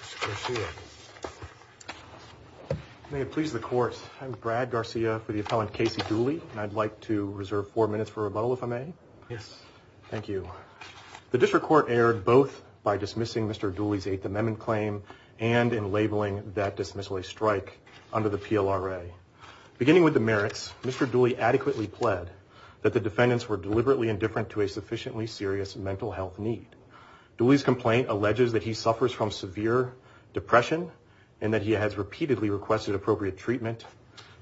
Mr. Garcia. May it please the court, I'm Brad Garcia for the appellant Casey Dooley and I'd like to reserve four minutes for rebuttal if I may. Yes. Thank you. The district court erred both by dismissing Mr. Dooley's Eighth Amendment claim and in labeling that dismissal a strike under the PLRA. Beginning with the merits, Mr. Dooley adequately pled that the defendants were deliberately indifferent to a sufficiently serious mental health need. Dooley's complaint alleges that he suffers from severe depression and that he has repeatedly requested appropriate treatment,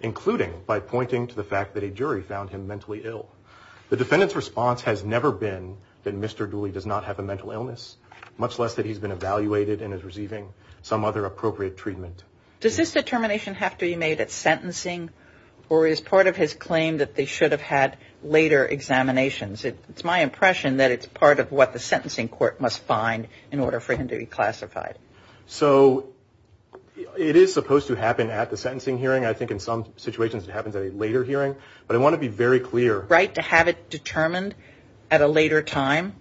including by pointing to the fact that a jury found him mentally ill. The defendant's response has never been that Mr. Dooley does not have a mental illness, much less that he's been evaluated and is receiving some other appropriate treatment. Does this determination have to be made at sentencing or is part of his claim that they should have had later examinations? It's my court must find in order for him to be classified. So it is supposed to happen at the sentencing hearing. I think in some situations it happens at a later hearing, but I want to be very clear. Right to have it determined at a later time.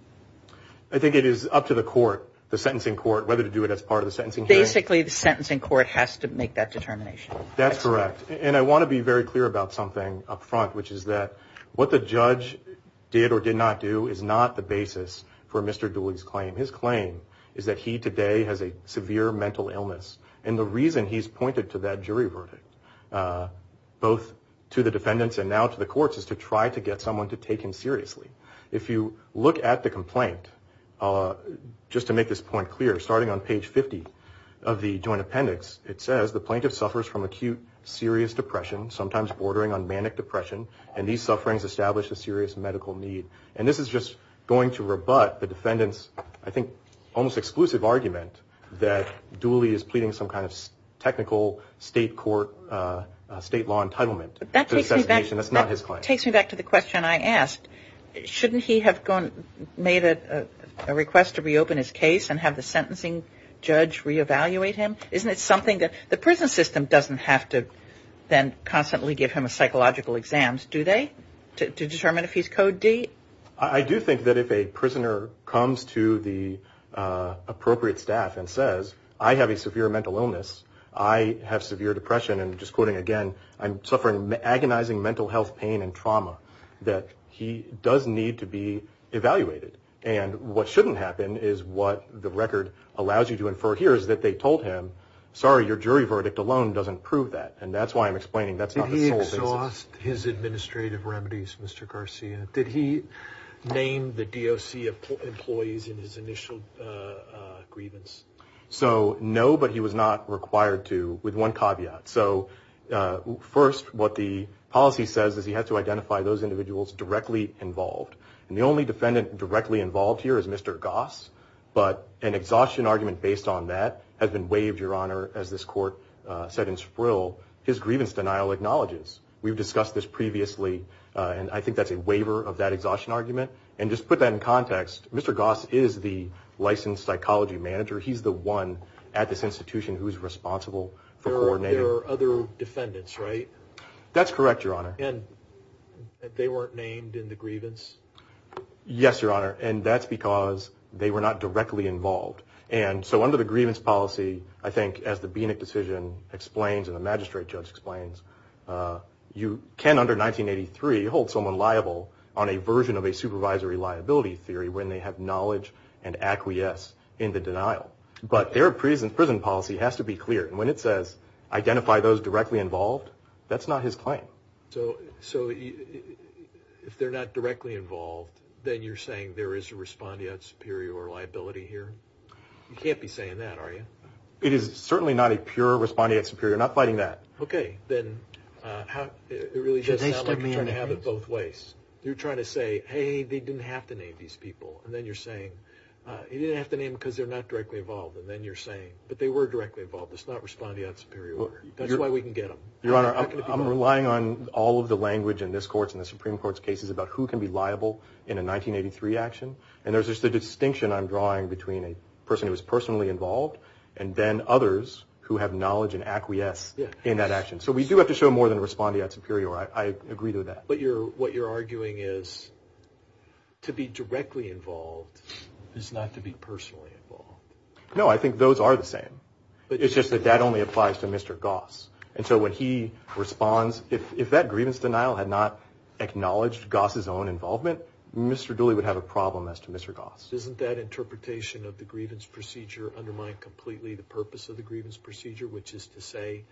I think it is up to the court, the sentencing court, whether to do it as part of the sentencing. Basically the sentencing court has to make that determination. That's correct. And I want to be very clear about something up front, which is that what the judge did or did not do is not the basis for Mr. Dooley's claim. His claim is that he today has a severe mental illness. And the reason he's pointed to that jury verdict, both to the defendants and now to the courts, is to try to get someone to take him seriously. If you look at the complaint, just to make this point clear, starting on page 50 of the joint appendix, it says the plaintiff suffers from acute serious depression, sometimes bordering on manic depression, and these sufferings establish a serious medical need. And this is just going to rebut the defendant's, I think, almost exclusive argument that Dooley is pleading some kind of technical state court, state law entitlement. That takes me back to the question I asked. Shouldn't he have made a request to reopen his case and have the sentencing judge reevaluate him? Isn't it something that the prison system doesn't have to then constantly give him psychological exams, do they, to determine if he's Code D? I do think that if a prisoner comes to the appropriate staff and says, I have a severe mental illness, I have severe depression, and just quoting again, I'm suffering agonizing mental health pain and trauma, that he does need to be evaluated. And what shouldn't happen is what the jury verdict alone doesn't prove that, and that's why I'm explaining that's not the sole basis. Did he exhaust his administrative remedies, Mr. Garcia? Did he name the DOC employees in his initial grievance? So, no, but he was not required to, with one caveat. So, first, what the policy says is he has to identify those individuals directly involved. And the only defendant directly involved here is Mr. Goss, but an exhaustion argument based on that has been waived, Your Honor, as this court said in Sprill. His grievance denial acknowledges. We've discussed this previously, and I think that's a waiver of that exhaustion argument. And just put that in context, Mr. Goss is the licensed psychology manager. He's the one at this institution who's responsible for coordinating. There are other defendants, right? That's correct, Your Honor. And they weren't named in the grievance? Yes, Your Honor. And that's because they were not directly involved. And so under the grievance policy, I think as the BNIC decision explains and the magistrate judge explains, you can under 1983 hold someone liable on a version of a supervisory liability theory when they have knowledge and acquiesce in the denial. But their prison policy has to be clear. And when it says identify those directly involved, then you're saying there is a respondeat superior liability here? You can't be saying that, are you? It is certainly not a pure respondeat superior. I'm not fighting that. Okay, then it really does sound like you're trying to have it both ways. You're trying to say, hey, they didn't have to name these people. And then you're saying, you didn't have to name because they're not directly involved. And then you're saying, but they were directly involved. It's not respondeat superior. That's why we can get them. Your Honor, I'm relying on all of the liable in a 1983 action. And there's just a distinction I'm drawing between a person who was personally involved and then others who have knowledge and acquiesce in that action. So we do have to show more than respondeat superior. I agree with that. But what you're arguing is to be directly involved is not to be personally involved. No, I think those are the same. But it's just that that only applies to Mr. Goss. And so when he responds, if that grievance denial had not acknowledged Goss's own involvement, Mr. Dooley would have a problem as to Mr. Goss. Isn't that interpretation of the grievance procedure undermine completely the purpose of the grievance procedure, which is to say,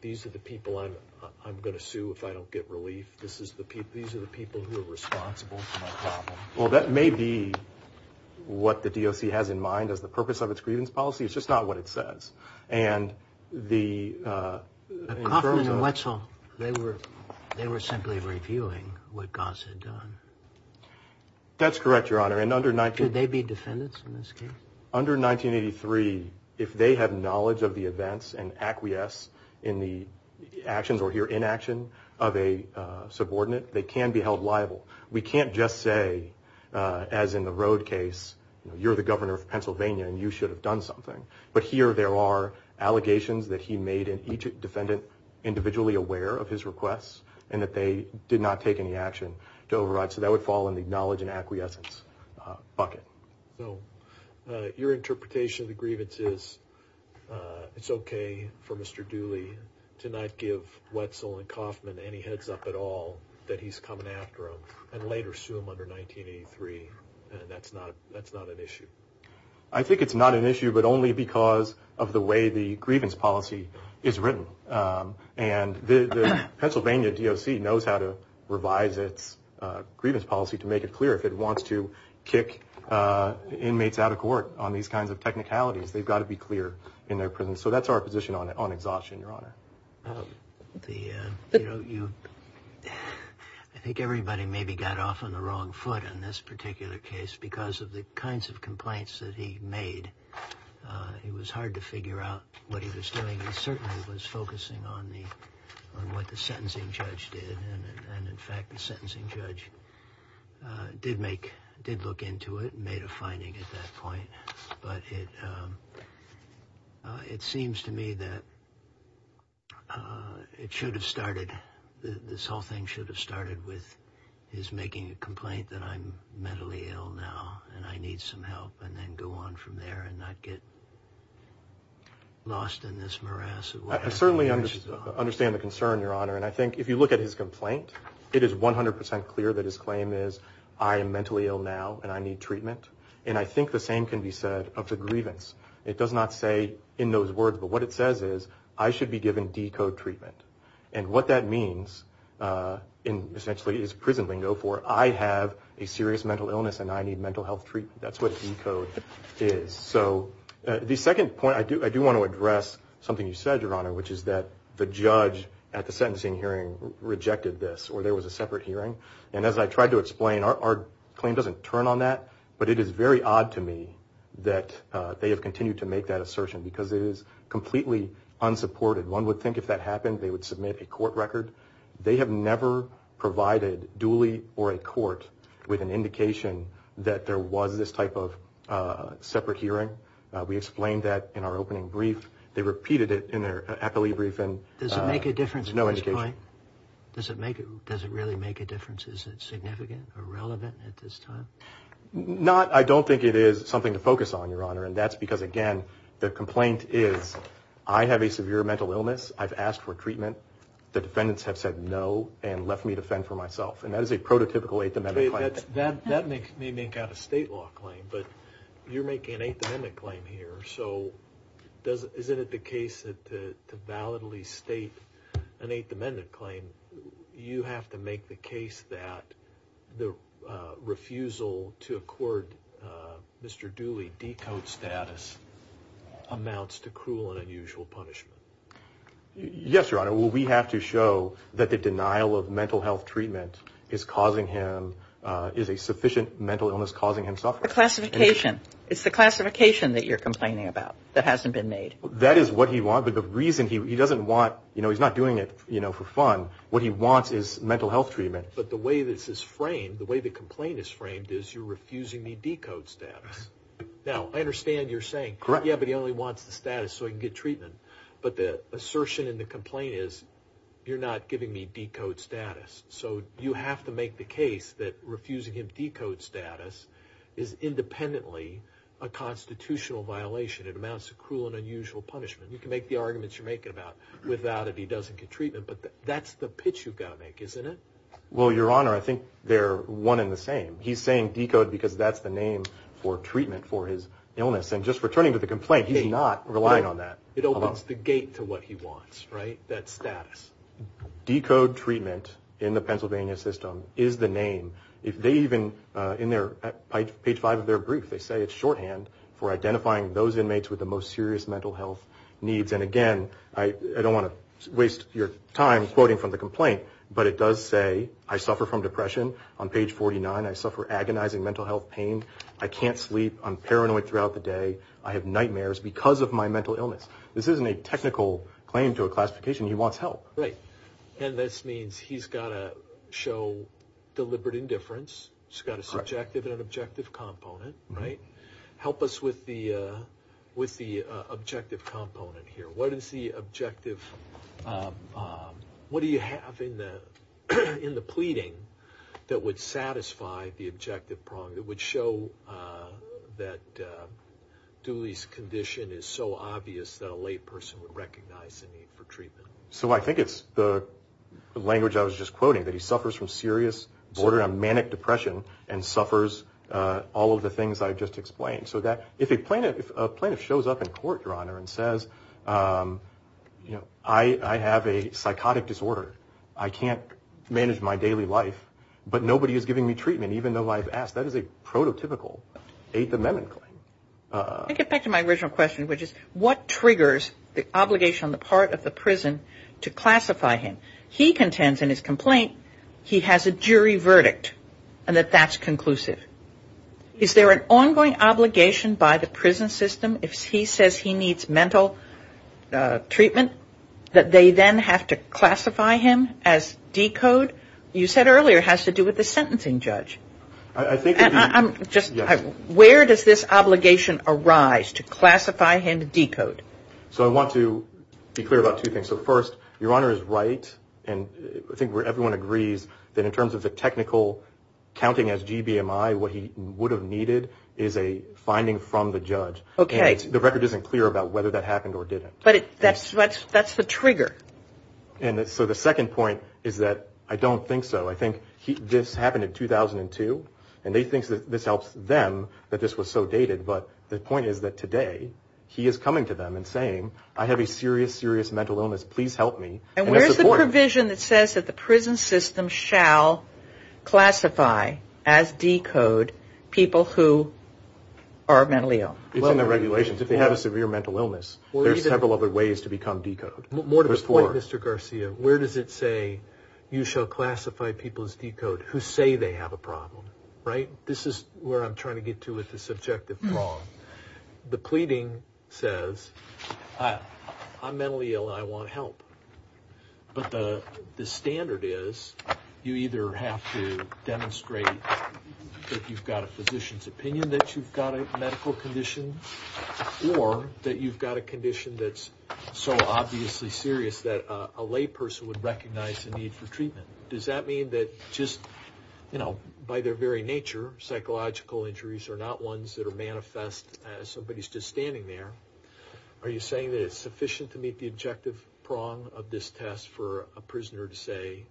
these are the people I'm going to sue if I don't get relief. These are the people who are responsible for my problem. Well, that may be what the DOC has in mind as the purpose of its grievance policy. It's just not what it says. And the... They were simply reviewing what Goss had done. That's correct, Your Honor. And under... Could they be defendants in this case? Under 1983, if they have knowledge of the events and acquiesce in the actions or here inaction of a subordinate, they can be held liable. We can't just say, as in the road case, you're the governor of Pennsylvania and you should have done something. But here there are allegations that he made in each defendant individually aware of his requests and that they did not take any action to override. So that would fall in the knowledge and acquiescence bucket. So your interpretation of the grievance is it's okay for Mr. Dooley to not give Wetzel and Kaufman any heads up at all that he's coming after him and later sue him under 1983. That's not an issue? I think it's not an issue, but only because of the way the grievance policy is written. And the Pennsylvania DOC knows how to revise its grievance policy to make it clear. If it wants to kick inmates out of court on these kinds of technicalities, they've got to be clear in their presence. So that's our position on exhaustion, Your Honor. The, you know, you, I think everybody maybe got off on the wrong foot on this particular case because of the kinds of complaints that he made. It was hard to figure out what he was doing. He certainly was focusing on the, on what the sentencing judge did. And in fact, the sentencing judge did make, did look into it and made a finding at that point. But it, it seems to me that it should have started, this whole thing should have started with his making a complaint that I'm mentally ill now and I need some help and then go on from there and not get lost in this morass. I certainly understand the concern, Your Honor. And I think if you look at his complaint, it is 100% clear that his claim is I am mentally ill now and I need treatment. And I think the same can be said of the grievance. It does not say in those words, but what it says is I should be given D-code treatment. And what that means in essentially his prison bingo for I have a serious mental illness and I need mental health treatment. That's what D-code is. So the second point I do, I do want to address something you said, Your Honor, which is that the judge at the sentencing hearing rejected this or there was a separate hearing. And as I tried to explain, our claim doesn't turn on that, but it is very odd to me that they have continued to make that unsupported. One would think if that happened, they would submit a court record. They have never provided duly or a court with an indication that there was this type of separate hearing. We explained that in our opening brief. They repeated it in their appellee briefing. Does it make a difference? No indication. Does it make it, does it really make a difference? Is it significant or relevant at this time? Not, I don't think it is something to focus on, Your Honor. And that's because again, the complaint is I have a severe mental illness. I've asked for treatment. The defendants have said no and left me to fend for myself. And that is a prototypical Eighth Amendment claim. That makes me make out a state law claim, but you're making an Eighth Amendment claim here. So does, is it the case that to validly state an Eighth Amendment claim, you have to make the case that the refusal to accord Mr. Dooley decode status amounts to cruel and unusual punishment? Yes, Your Honor. Well, we have to show that the denial of mental health treatment is causing him, is a sufficient mental illness causing him suffering. The classification. It's the classification that you're complaining about that hasn't been made. That is what he wants, but the reason he doesn't want, you know, he's not doing it, you know, for fun. What he wants is mental health treatment. But the way this is framed, the way the complaint is framed is you're refusing me decode status. Now I understand you're saying, yeah, but he only wants the status so he can get treatment. But the assertion in the complaint is you're not giving me decode status. So you have to make the case that refusing him decode status is independently a constitutional violation. It amounts to cruel and unusual punishment. You can make the arguments you're making about without it, he doesn't get treatment. But that's the pitch you've got to make, isn't it? Well, Your Honor, I think they're one in the same. He's saying decode because that's the name for treatment for his illness. And just returning to the complaint, he's not relying on that. It opens the gate to what he wants, right? That status. Decode treatment in the Pennsylvania system is the name. If they even in their page five of their They say it's shorthand for identifying those inmates with the most serious mental health needs. And again, I don't want to waste your time quoting from the complaint, but it does say I suffer from depression. On page 49, I suffer agonizing mental health pain. I can't sleep. I'm paranoid throughout the day. I have nightmares because of my mental illness. This isn't a technical claim to a classification. He wants help. Right. And this means he's got to show deliberate indifference. He's got a subjective and an objective component, right? Help us with the objective component here. What is the objective? What do you have in the pleading that would satisfy the objective prong that would show that Dooley's condition is so obvious that a lay person would recognize the need for treatment? So I think it's the language I was just quoting, that he suffers from serious, manic depression and suffers all of the things I've just explained. So that if a plaintiff shows up in court, Your Honor, and says, you know, I have a psychotic disorder. I can't manage my daily life, but nobody is giving me treatment, even though I've asked. That is a prototypical Eighth Amendment claim. I get back to my original question, which is triggers the obligation on the part of the prison to classify him? He contends in his complaint, he has a jury verdict and that that's conclusive. Is there an ongoing obligation by the prison system if he says he needs mental treatment, that they then have to classify him as decode? You said earlier it has to do with the sentencing judge. Where does this obligation arise to So I want to be clear about two things. So first, Your Honor is right and I think everyone agrees that in terms of the technical counting as GBMI, what he would have needed is a finding from the judge. Okay. The record isn't clear about whether that happened or didn't. But that's the trigger. And so the second point is that I don't think so. I think this happened in 2002 and they think this helps them that this was so dated. But the point is that today he is coming to them and saying, I have a serious, serious mental illness. Please help me. And where's the provision that says that the prison system shall classify as decode people who are mentally ill? It's in the regulations. If they have a severe mental illness, there's several other ways to become decode. More to the point, Mr. Garcia, where does it say you shall classify people as decode who say they have a problem? Right. This is where I'm trying to get to with the subjective. The pleading says I'm mentally ill. I want help. But the standard is you either have to demonstrate that you've got a physician's opinion that you've got a medical condition or that you've got a condition that's so obviously serious that a lay person would recognize the need for treatment. Does that mean that just, you know, by their very nature, psychological injuries are not ones that are manifest as somebody's just standing there? Are you saying that it's sufficient to meet the objective prong of this test for a prisoner to say,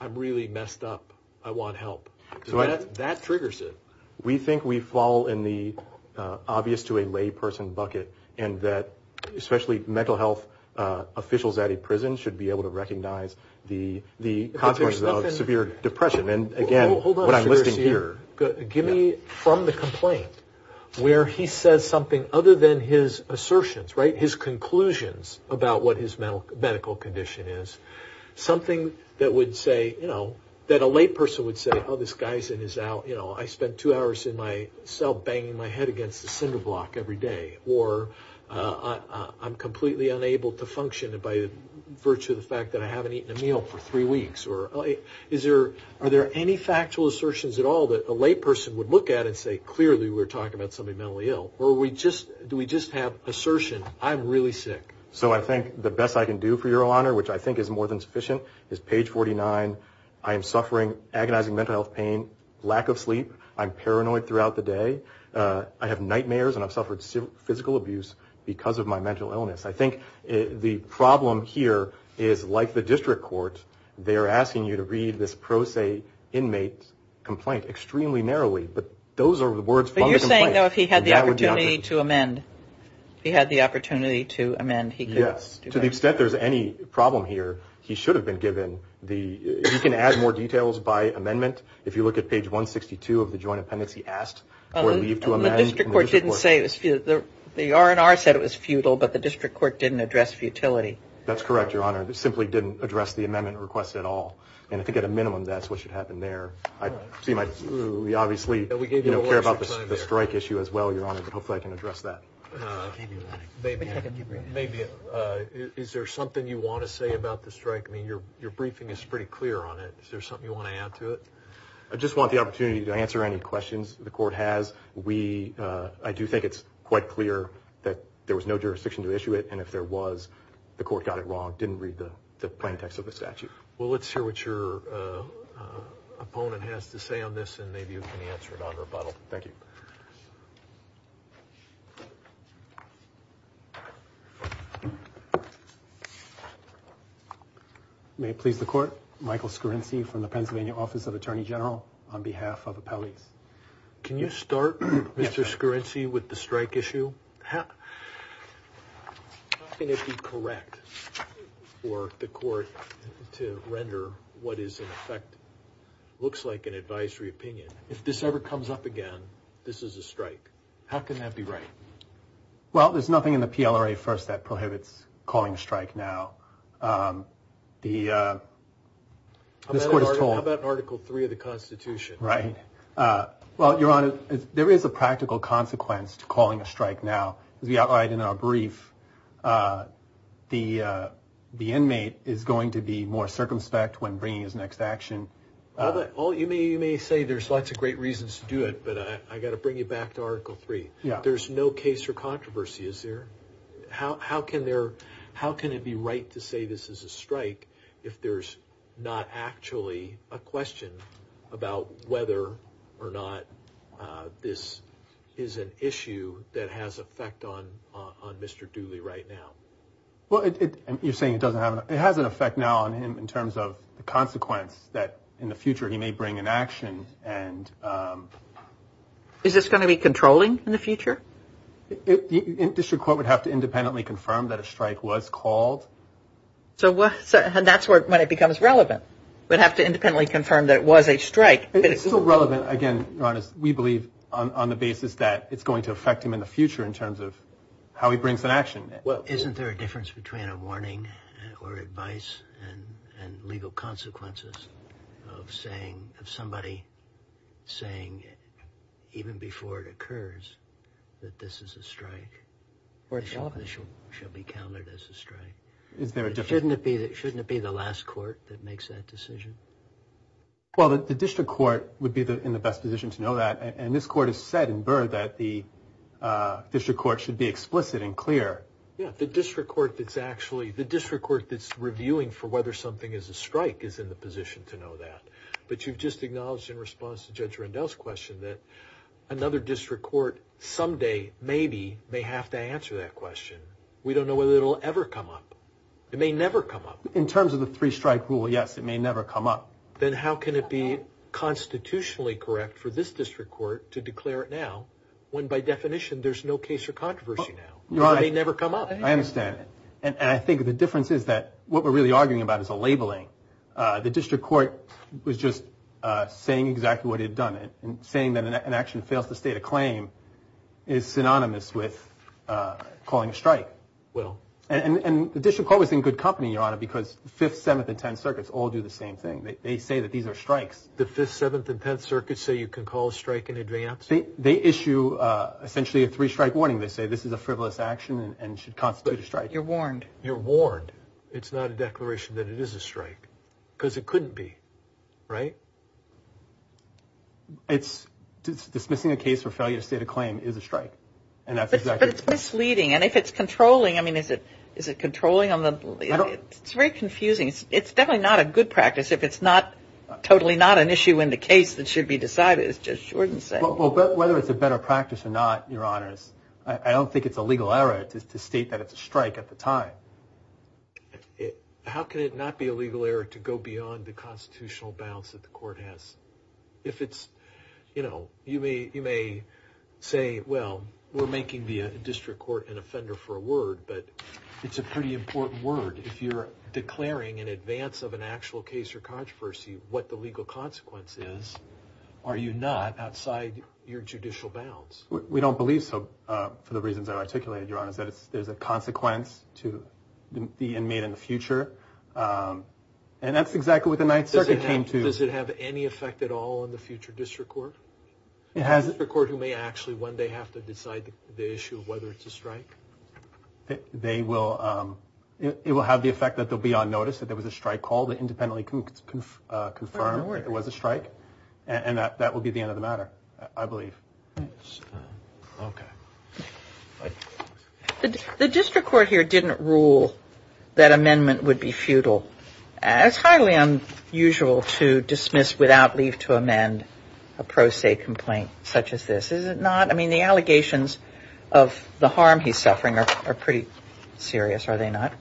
I'm really messed up. I want help. That triggers it. We think we fall in the obvious to a lay person bucket and that especially mental health officials at a prison should be able to recognize the consequences of severe depression. And again, what I'm listing here. Give me from the complaint where he says something other than his assertions, right, his conclusions about what his medical condition is, something that would say, you know, that a lay person would say, oh, this guy's in his out, you know, I spent two hours in my cell banging my head against the cinder block every day. Or I'm completely unable to function by virtue of the fact that I haven't eaten a meal for three weeks. Or is there, are there any factual assertions at all that a lay person would look at and say, clearly we're talking about somebody mentally ill. Or do we just have assertion, I'm really sick? So I think the best I can do for your honor, which I think is more than sufficient, is page 49. I am suffering agonizing mental health lack of sleep. I'm paranoid throughout the day. I have nightmares and I've suffered physical abuse because of my mental illness. I think the problem here is like the district court, they're asking you to read this pro se inmate complaint extremely narrowly, but those are the words from the complaint. But you're saying though, if he had the opportunity to amend, if he had the opportunity to amend, he could. Yes, to the extent there's any problem here, he should have been given the, he can add more details by amendment. If you look at page 162 of the joint appendix, he asked for leave to amend. The district court didn't say it was, the RNR said it was futile, but the district court didn't address futility. That's correct, your honor. They simply didn't address the amendment request at all. And I think at a minimum, that's what should happen there. I see my, we obviously care about the strike issue as well, your honor, but hopefully I can address that. Maybe, maybe. Is there something you want to say about the strike? I mean, your briefing is pretty clear on it. Is there something you want to add to it? I just want the opportunity to answer any questions the court has. We, I do think it's quite clear that there was no jurisdiction to issue it, and if there was, the court got it wrong, didn't read the plain text of the statute. Well, let's hear what your opponent has to say on this, and maybe you can answer it on rebuttal. Thank you. May it please the court, Michael Scorinci from the Pennsylvania Office of Attorney General, on behalf of Appellees. Can you start, Mr. Scorinci, with the strike issue? How can it be correct for the court to render what is in effect, looks like an advisory opinion, if this ever comes up again, this is a strike? How can that be right? Well, there's nothing in the, this court has told. How about in Article 3 of the Constitution? Right. Well, Your Honor, there is a practical consequence to calling a strike now. As we outlined in our brief, the inmate is going to be more circumspect when bringing his next action. Well, you may say there's lots of great reasons to do it, but I got to bring you back to Article 3. There's no case for controversy, is there? How can there, how can it be right to say this is a strike if there's not actually a question about whether or not this is an issue that has effect on Mr. Dooley right now? Well, it, you're saying it doesn't have, it has an effect now on him in terms of the consequence that in the future he may bring an action. And is this going to be controlling in the future? The district court would have to independently confirm that a strike was called. So what, so that's where, when it becomes relevant, we'd have to independently confirm that it was a strike. It's still relevant. Again, Your Honor, we believe on the basis that it's going to affect him in the future in terms of how he brings an action. Well, isn't there a difference between a warning or advice and legal consequences of saying, of somebody saying even before it occurs that this is a strike? Or it's obvious. It shall be counted as a strike. Isn't there a difference? Shouldn't it be, shouldn't it be the last court that makes that decision? Well, the district court would be the, in the best position to know that. And this court has said in Burr that the district court should be explicit and clear. Yeah, the district court that's actually, the district court that's reviewing for whether something is a strike is in the position to know that. But you've just acknowledged in response to Judge Rendell's question that another district court someday, maybe, may have to answer that question. We don't know whether it'll ever come up. It may never come up. In terms of the three-strike rule, yes, it may never come up. Then how can it be constitutionally correct for this district court to declare it now when by definition there's no case for controversy now? It may never come up. I understand. And I think the difference is that what we're really arguing about is a labeling. The district court was just saying exactly what it had done. And saying that an action fails to state a claim is synonymous with calling a strike. Well. And the district court was in good company, Your Honor, because the 5th, 7th, and 10th circuits all do the same thing. They say that these are strikes. The 5th, 7th, and 10th circuits say you can call a strike in advance? They issue essentially a three-strike warning. They say this is a frivolous action and should constitute a strike. Because it couldn't be, right? It's dismissing a case for failure to state a claim is a strike. And that's exactly. But it's misleading. And if it's controlling, I mean, is it controlling on the, it's very confusing. It's definitely not a good practice if it's not, totally not an issue in the case that should be decided. It's just short and simple. Well, whether it's a better practice or not, Your Honors, I don't think it's a legal error to state that it's a strike at the time. How can it not be a legal error to go beyond the constitutional bounds that the court has? If it's, you know, you may, you may say, well, we're making the district court an offender for a word, but it's a pretty important word. If you're declaring in advance of an actual case or controversy, what the legal consequence is, are you not outside your judicial bounds? We don't believe so for the reasons I articulated, Your Honors, that there's a consequence to the inmate in the future. And that's exactly what the Ninth Circuit came to. Does it have any effect at all on the future district court? It has. The district court who may actually one day have to decide the issue of whether it's a strike? They will, it will have the effect that they'll be on notice that there was a strike call to independently confirm that there was a strike. And that will be the end of the matter, I believe. Okay. The district court here didn't rule that amendment would be futile. It's highly unusual to dismiss without leave to amend a pro se complaint such as this, is it not? I mean, the allegations of the harm he's suffering are pretty serious, are they not?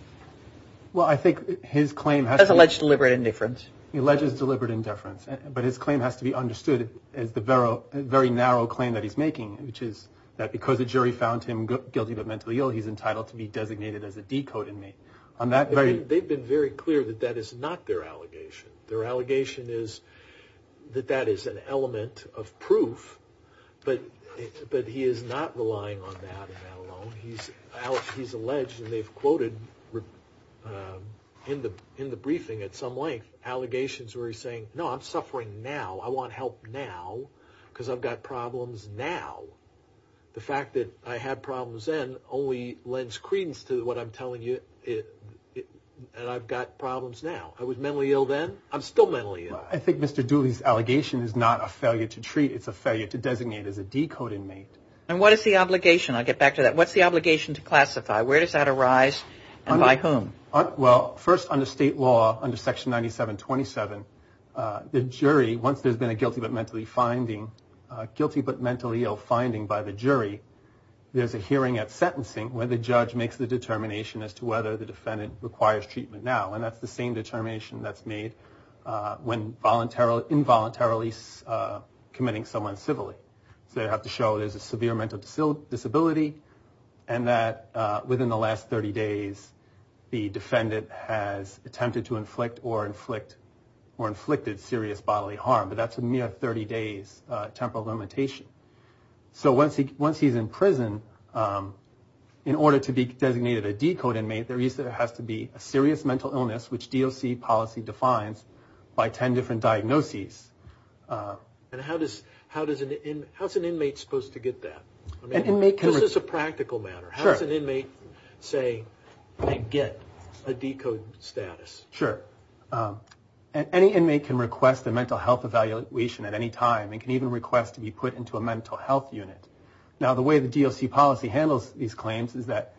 Well, I think his claim has alleged deliberate indifference. He alleges deliberate indifference, but his claim has to be understood as the very narrow claim that he's making, which is that because the jury found him guilty of mental ill, he's entitled to be designated as a decode inmate. They've been very clear that that is not their allegation. Their allegation is that that is an element of proof, but he is not relying on that alone. He's alleged and they've I want help now because I've got problems now. The fact that I had problems then only lends credence to what I'm telling you and I've got problems now. I was mentally ill then, I'm still mentally ill. I think Mr. Dooley's allegation is not a failure to treat, it's a failure to designate as a decode inmate. And what is the obligation? I'll get back to that. What's the obligation to classify? Where does that arise and by whom? Well, first under state law, under section 9727, the jury, once there's been a guilty but mentally ill finding by the jury, there's a hearing at sentencing where the judge makes the determination as to whether the defendant requires treatment now. And that's the same determination that's made when involuntarily committing someone civilly. So you have to show there's a severe mental disability and that within the last 30 days, the defendant has attempted to inflict or inflicted serious bodily harm, but that's a mere 30 days temporal limitation. So once he's in prison, in order to be designated a decode inmate, there has to be a serious mental illness, which DOC policy defines by 10 different diagnoses. And how does an inmate supposed to get that? Just as a practical matter, how does an inmate say they get a decode status? Sure. Any inmate can request a mental health evaluation at any time and can even request to be put into a mental health unit. Now the way the DOC policy handles these claims is that,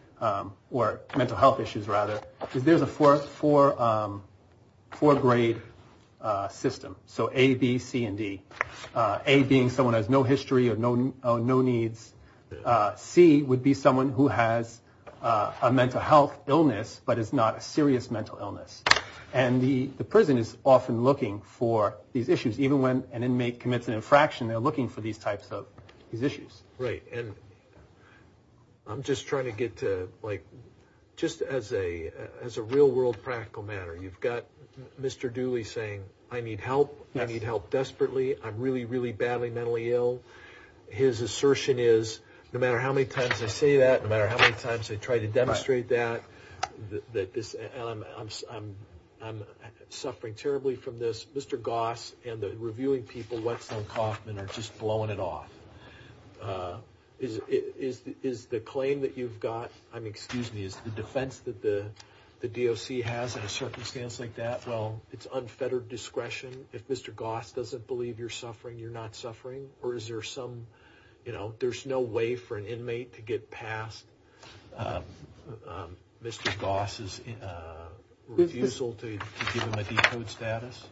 or mental health issues rather, is there's a four grade system. So A, B, C, and D. A being someone who has no history or no needs. C would be someone who has a mental health illness, but is not a serious mental illness. And the prison is often looking for these issues, even when an inmate commits an infraction, they're looking for these types of issues. Right. And I'm just trying to get to like, just as a real world practical matter, you've got Mr. Dooley saying, I need help. I need help desperately. I'm really, really badly mentally ill. His assertion is, no matter how many times I say that, no matter how many times I try to demonstrate that, that this, and I'm suffering terribly from this. Mr. Goss and the reviewing people, Whetstone Coffman are just blowing it off. Is the claim that you've got, I mean, excuse me, is the defense that the DOC has in a circumstance like that? Well, it's unfettered discretion. If Mr. Goss doesn't believe you're suffering, you're not suffering, or is there some, you know, there's no way for an inmate to get past Mr. Goss' refusal to give him a decode status?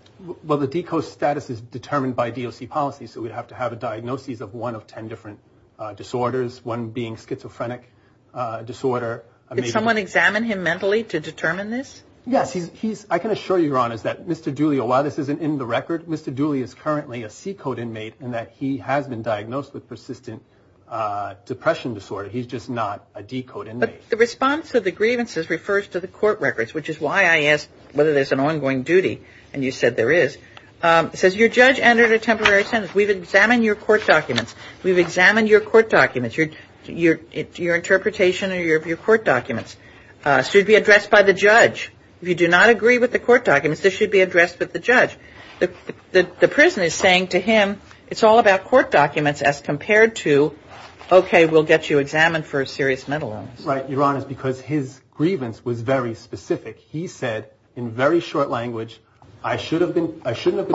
Well, the decode status is determined by DOC policy. So we'd have to have a diagnosis of one of 10 different disorders, one being schizophrenic disorder. Did someone examine him mentally to determine this? Yes, he's, I can assure you, Your Honor, that Mr. Dooley, while this isn't in the record, Mr. Dooley is currently a C-code inmate in that he has been diagnosed with persistent depression disorder. He's just not a D-code inmate. But the response of the grievances refers to the court records, which is why I asked whether there's an ongoing duty, and you said there is. It says your judge entered a temporary sentence. We've examined your court documents. We've examined your court documents. Your interpretation of your court documents should be addressed by the judge. If you do not agree with the court documents, this should be addressed with the judge. The prison is saying to him, it's all about court documents as compared to, okay, we'll get you examined for serious mental illness. Right, Your Honor, because his shouldn't have been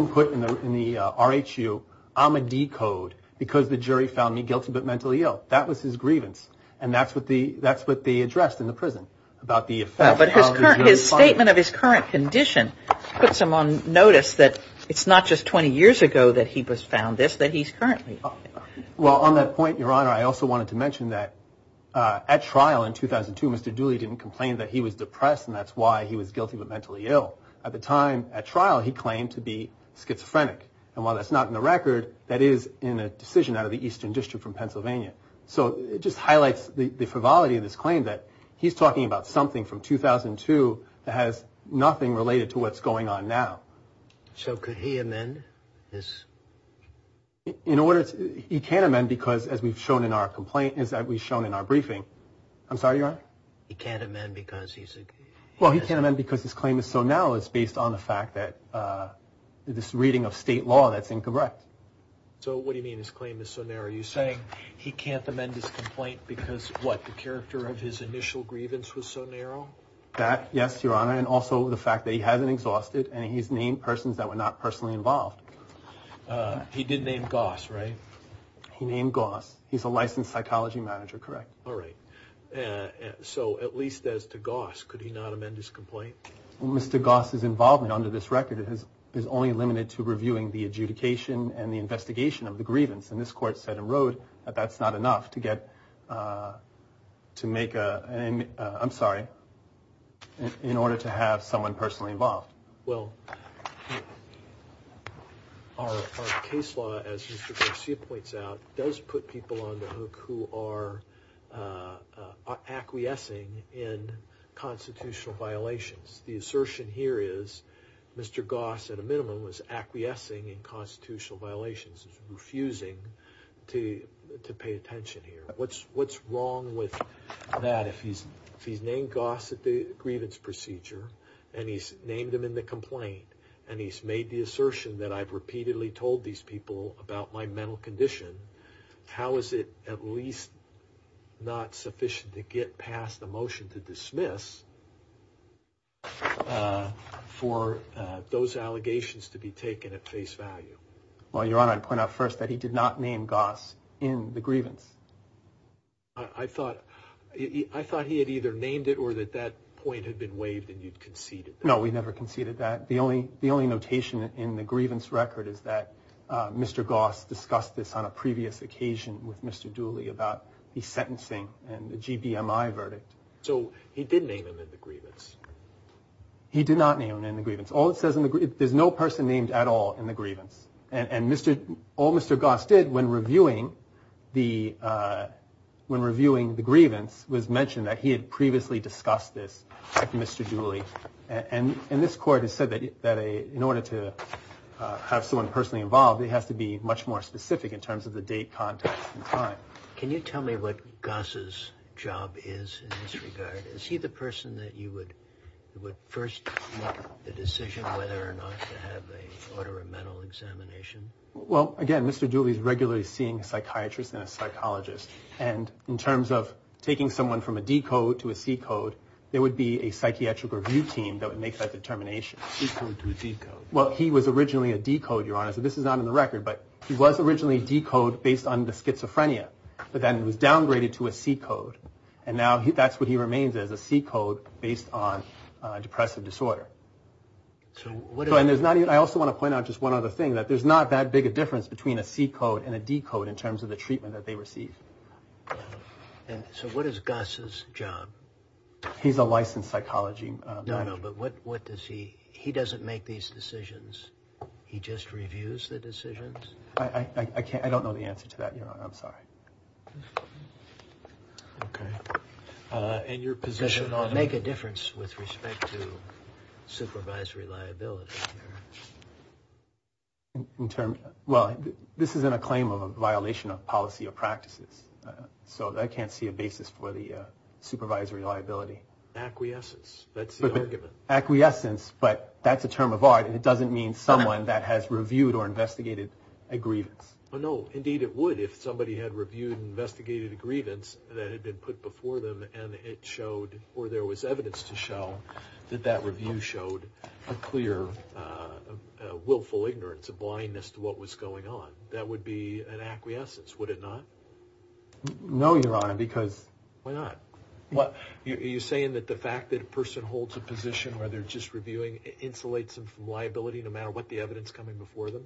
put in the R-H-U, I'm a D-code because the jury found me guilty but mentally ill. That was his grievance, and that's what they addressed in the prison about the effect. But his statement of his current condition puts him on notice that it's not just 20 years ago that he was found this, that he's currently. Well, on that point, Your Honor, I also wanted to mention that at trial in 2002, Mr. Dooley didn't complain that he was depressed, and that's he was guilty but mentally ill. At the time at trial, he claimed to be schizophrenic. And while that's not in the record, that is in a decision out of the Eastern District from Pennsylvania. So it just highlights the frivolity of this claim that he's talking about something from 2002 that has nothing related to what's going on now. So could he amend this? In order to, he can't amend because as we've shown in our complaint, as we've shown in our because his claim is so narrow, it's based on the fact that this reading of state law, that's incorrect. So what do you mean his claim is so narrow? Are you saying he can't amend his complaint because what, the character of his initial grievance was so narrow? That, yes, Your Honor, and also the fact that he hasn't exhausted and he's named persons that were not personally involved. He did name Goss, right? He named Goss. He's a licensed psychology manager, correct. All right. So at least as to Goss, could he not amend his complaint? Mr. Goss's involvement under this record is only limited to reviewing the adjudication and the investigation of the grievance. And this court said and wrote that that's not enough to get to make a, I'm sorry, in order to have someone personally involved. Well, our case law, as Mr. Garcia points out, does put people on the hook who are acquiescing in constitutional violations. The assertion here is Mr. Goss, at a minimum, was acquiescing in constitutional violations, is refusing to pay attention here. What's wrong with that? If he's named Goss at the grievance procedure and he's named him in the complaint and he's made the assertion that I've repeatedly told these people about my mental condition, how is it at least not sufficient to get past the motion to dismiss for those allegations to be taken at face value? Well, Your Honor, I'd point out first that he did not name Goss in the grievance. I thought he had either named it or that that point had been waived and you'd conceded that. No, we never conceded that. The only notation in the grievance record is that Mr. Goss discussed this on a previous occasion with Mr. Dooley about the sentencing and the GBMI verdict. So he did name him in the grievance? He did not name him in the grievance. There's no person named at all in the grievance. And all Mr. Goss did when reviewing the grievance was mention that he had previously discussed this with Mr. Dooley. And this court has said that in order to have someone personally involved, it has to be much more specific in terms of the date, context, and time. Can you tell me what Goss's job is in this regard? Is he the person that you would first make the decision whether or not to have an order of mental examination? Well, again, Mr. Dooley is regularly seeing a psychiatrist and a psychologist. And in terms of taking someone from a D-code to a C-code, there would be a psychiatric review team that would make that determination. D-code to a D-code? Well, he was originally a D-code, Your Honor. So this is not in the record, but he was originally a D-code based on the schizophrenia, but then it was downgraded to a C-code. And now that's what he remains as, a C-code based on depressive disorder. I also want to point out just one other thing, that there's not that big a difference between a C-code and a D-code in terms of the treatment that they receive. And so what is Goss's job? He's a licensed psychology manager. No, no, but what does he... He doesn't make these decisions. He just reviews the decisions? I don't know the answer to that, Your Honor. I'm sorry. Okay. And your position on... Make a difference with respect to supervisory liability. Well, this isn't a claim of a violation of policy or practices. So I can't see a basis for the supervisory liability. Acquiescence. That's the argument. Acquiescence, but that's a term of art and it doesn't mean someone that has reviewed or investigated a grievance. No, indeed it would. If somebody had reviewed and investigated a grievance that had been put before them and it showed or there was evidence to show that that review showed a clear willful ignorance, a blindness to what was going on, that would be an acquiescence, would it not? No, Your Honor, because... Why not? Are you saying that the fact that a person holds a position where they're just reviewing insulates them from liability no matter what the evidence coming before them?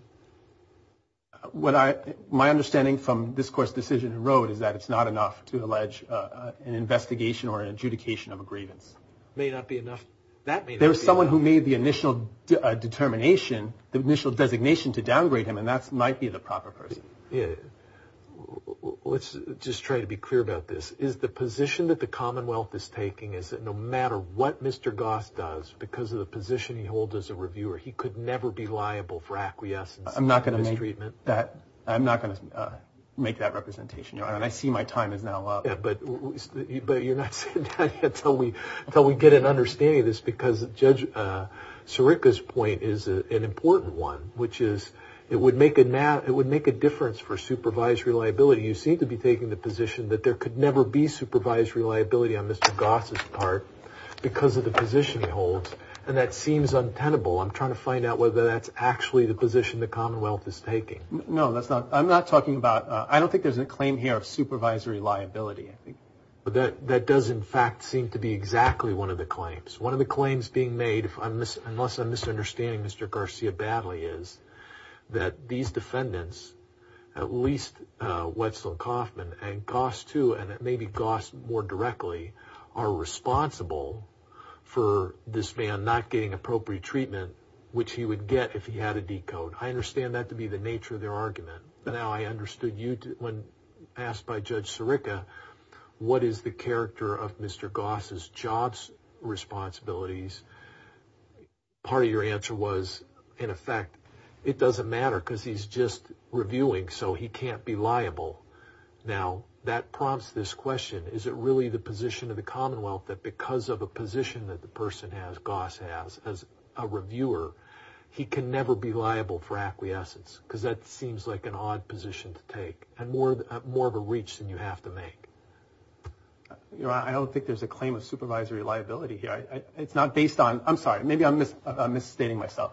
My understanding from this Court's decision in Rhode is that it's not enough to allege an investigation or an adjudication of a grievance. It may not be enough. That may not be enough. There was someone who made the initial determination, the initial designation to downgrade him, and that might be the proper person. Yeah. Let's just try to be clear about this. Is the position that the Commonwealth is taking is that no matter what Mr. Goss does because of the position he holds as a reviewer, he could never be liable for acquiescence and mistreatment? I'm not going to make that representation, Your Honor, and I see my time is now up. But you're not sitting down yet until we get an understanding of this because Judge Sirica's point is an important one, which is it would make a difference for supervised reliability. You seem to be taking the position that there could never be supervised reliability on Mr. Goss's part because of the position he holds, and that seems untenable. I'm trying to find out whether that's actually the position the Commonwealth is taking. No, that's not. I'm not talking about... I don't think there's a claim here of supervisory liability, I think. But that does, in fact, seem to be exactly one of the claims. One of the claims being made, unless I'm misunderstanding Mr. Garcia badly, is that these defendants, at least Westland-Kaufman and Goss, too, and maybe Goss more directly, are responsible for this appropriate treatment, which he would get if he had a decode. I understand that to be the nature of their argument. Now, I understood you, when asked by Judge Sirica, what is the character of Mr. Goss's jobs responsibilities? Part of your answer was, in effect, it doesn't matter because he's just reviewing, so he can't be liable. Now, that prompts this question. Is it really the position of the Commonwealth that because of a position that the person has, Goss has, as a reviewer, he can never be liable for acquiescence? Because that seems like an odd position to take, and more of a reach than you have to make. I don't think there's a claim of supervisory liability here. It's not based on... I'm sorry, maybe I'm misstating myself.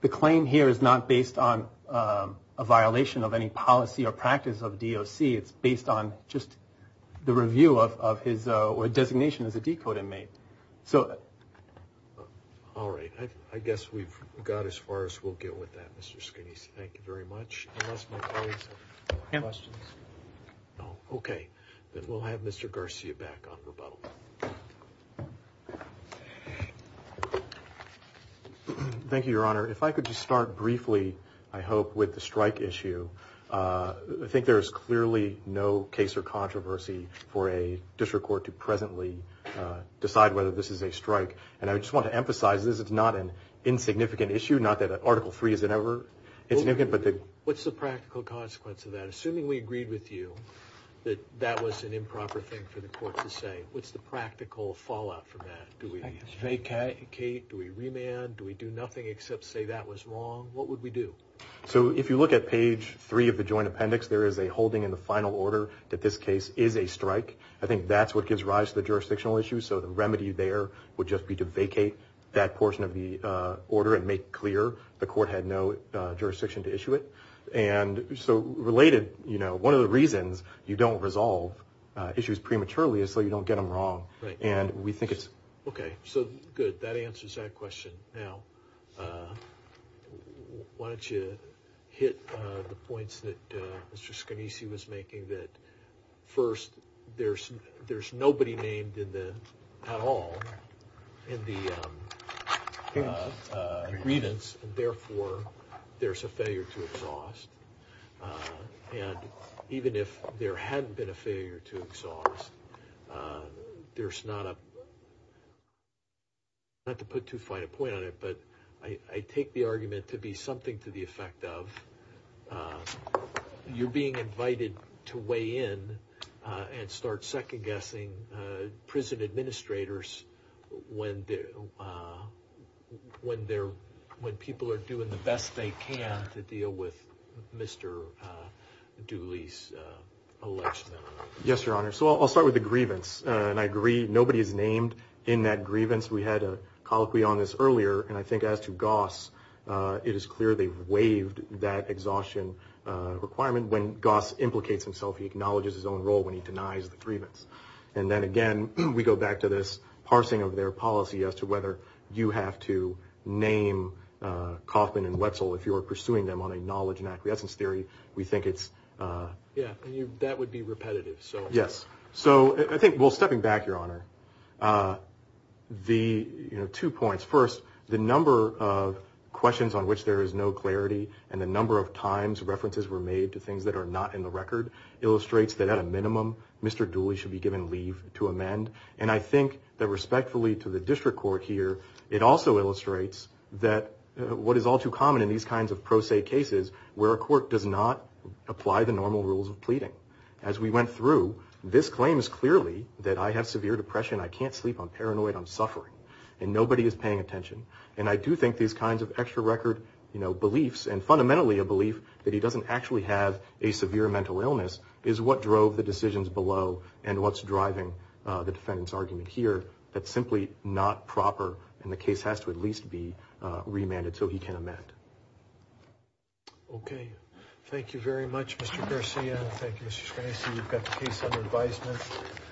The claim here is not based on a violation of any policy or practice of DOC. It's based on just the review of his designation as a decode inmate. So, all right. I guess we've got as far as we'll get with that, Mr. Skinnies. Thank you very much. Okay, then we'll have Mr. Garcia back on rebuttal. Thank you, Your Honor. If I could just start briefly, I hope, with the strike issue. I think there's clearly no case or controversy for a district court to presently decide whether this is a strike. And I just want to emphasize this. It's not an insignificant issue, not that Article 3 isn't ever insignificant. What's the practical consequence of that? Assuming we agreed with you that that was an improper thing for the court to say, what's the practical fallout from that? Do we vacate? Do we remand? Do we do nothing except say that was wrong? What would we do? So, if you look at page 3 of the Joint Appendix, there is a holding in the final order that this case is a strike. I think that's what gives rise to the jurisdictional issue. So, the remedy there would just be to vacate that portion of the order and make clear the court had no jurisdiction to issue it. And so, related, you know, one of the reasons you don't resolve issues prematurely is so you don't get them wrong. Right. And we think it's... Okay. So, good. That answers that question. Now, why don't you hit the points that Mr. Scanisi was making that, first, there's nobody named at all in the grievance, and therefore, there's a failure to exhaust. And even if there hadn't been a failure to exhaust, there's not a... Not to put too fine a point on it, but I take the argument to be something to the effect of you're being invited to weigh in and start second-guessing prison administrators when people are doing the best they can to deal with Mr. Dooley's election. Yes, Your Honor. So, I'll start with the grievance, and I agree nobody is named in that grievance. We had a colloquy on this earlier, and I think as to Goss, it is clear they waived that exhaustion requirement. When Goss implicates himself, he acknowledges his own role when he denies the grievance. And then, again, we go back to this parsing of their policy as to whether you have to name Kaufman and Wetzel if you are pursuing them on a knowledge and acquiescence theory. We think it's... Yeah, that would be repetitive, so... Yes. So, I think, well, stepping back, Your Honor, two points. First, the number of questions on which there is no clarity and the number of times references were made to things that are not in the record illustrates that at a minimum, Mr. Dooley should be given leave to amend. And I think that respectfully to the district court here, it also illustrates that what is all too common in these kinds of apply the normal rules of pleading. As we went through, this claims clearly that I have severe depression, I can't sleep, I'm paranoid, I'm suffering, and nobody is paying attention. And I do think these kinds of extra record beliefs and fundamentally a belief that he doesn't actually have a severe mental illness is what drove the decisions below and what's driving the defendant's argument here. That's simply not proper, and the case has to at least be amended. Okay. Thank you very much, Mr. Garcia. Thank you, Mr. Scrancy. You've got the case under advisement.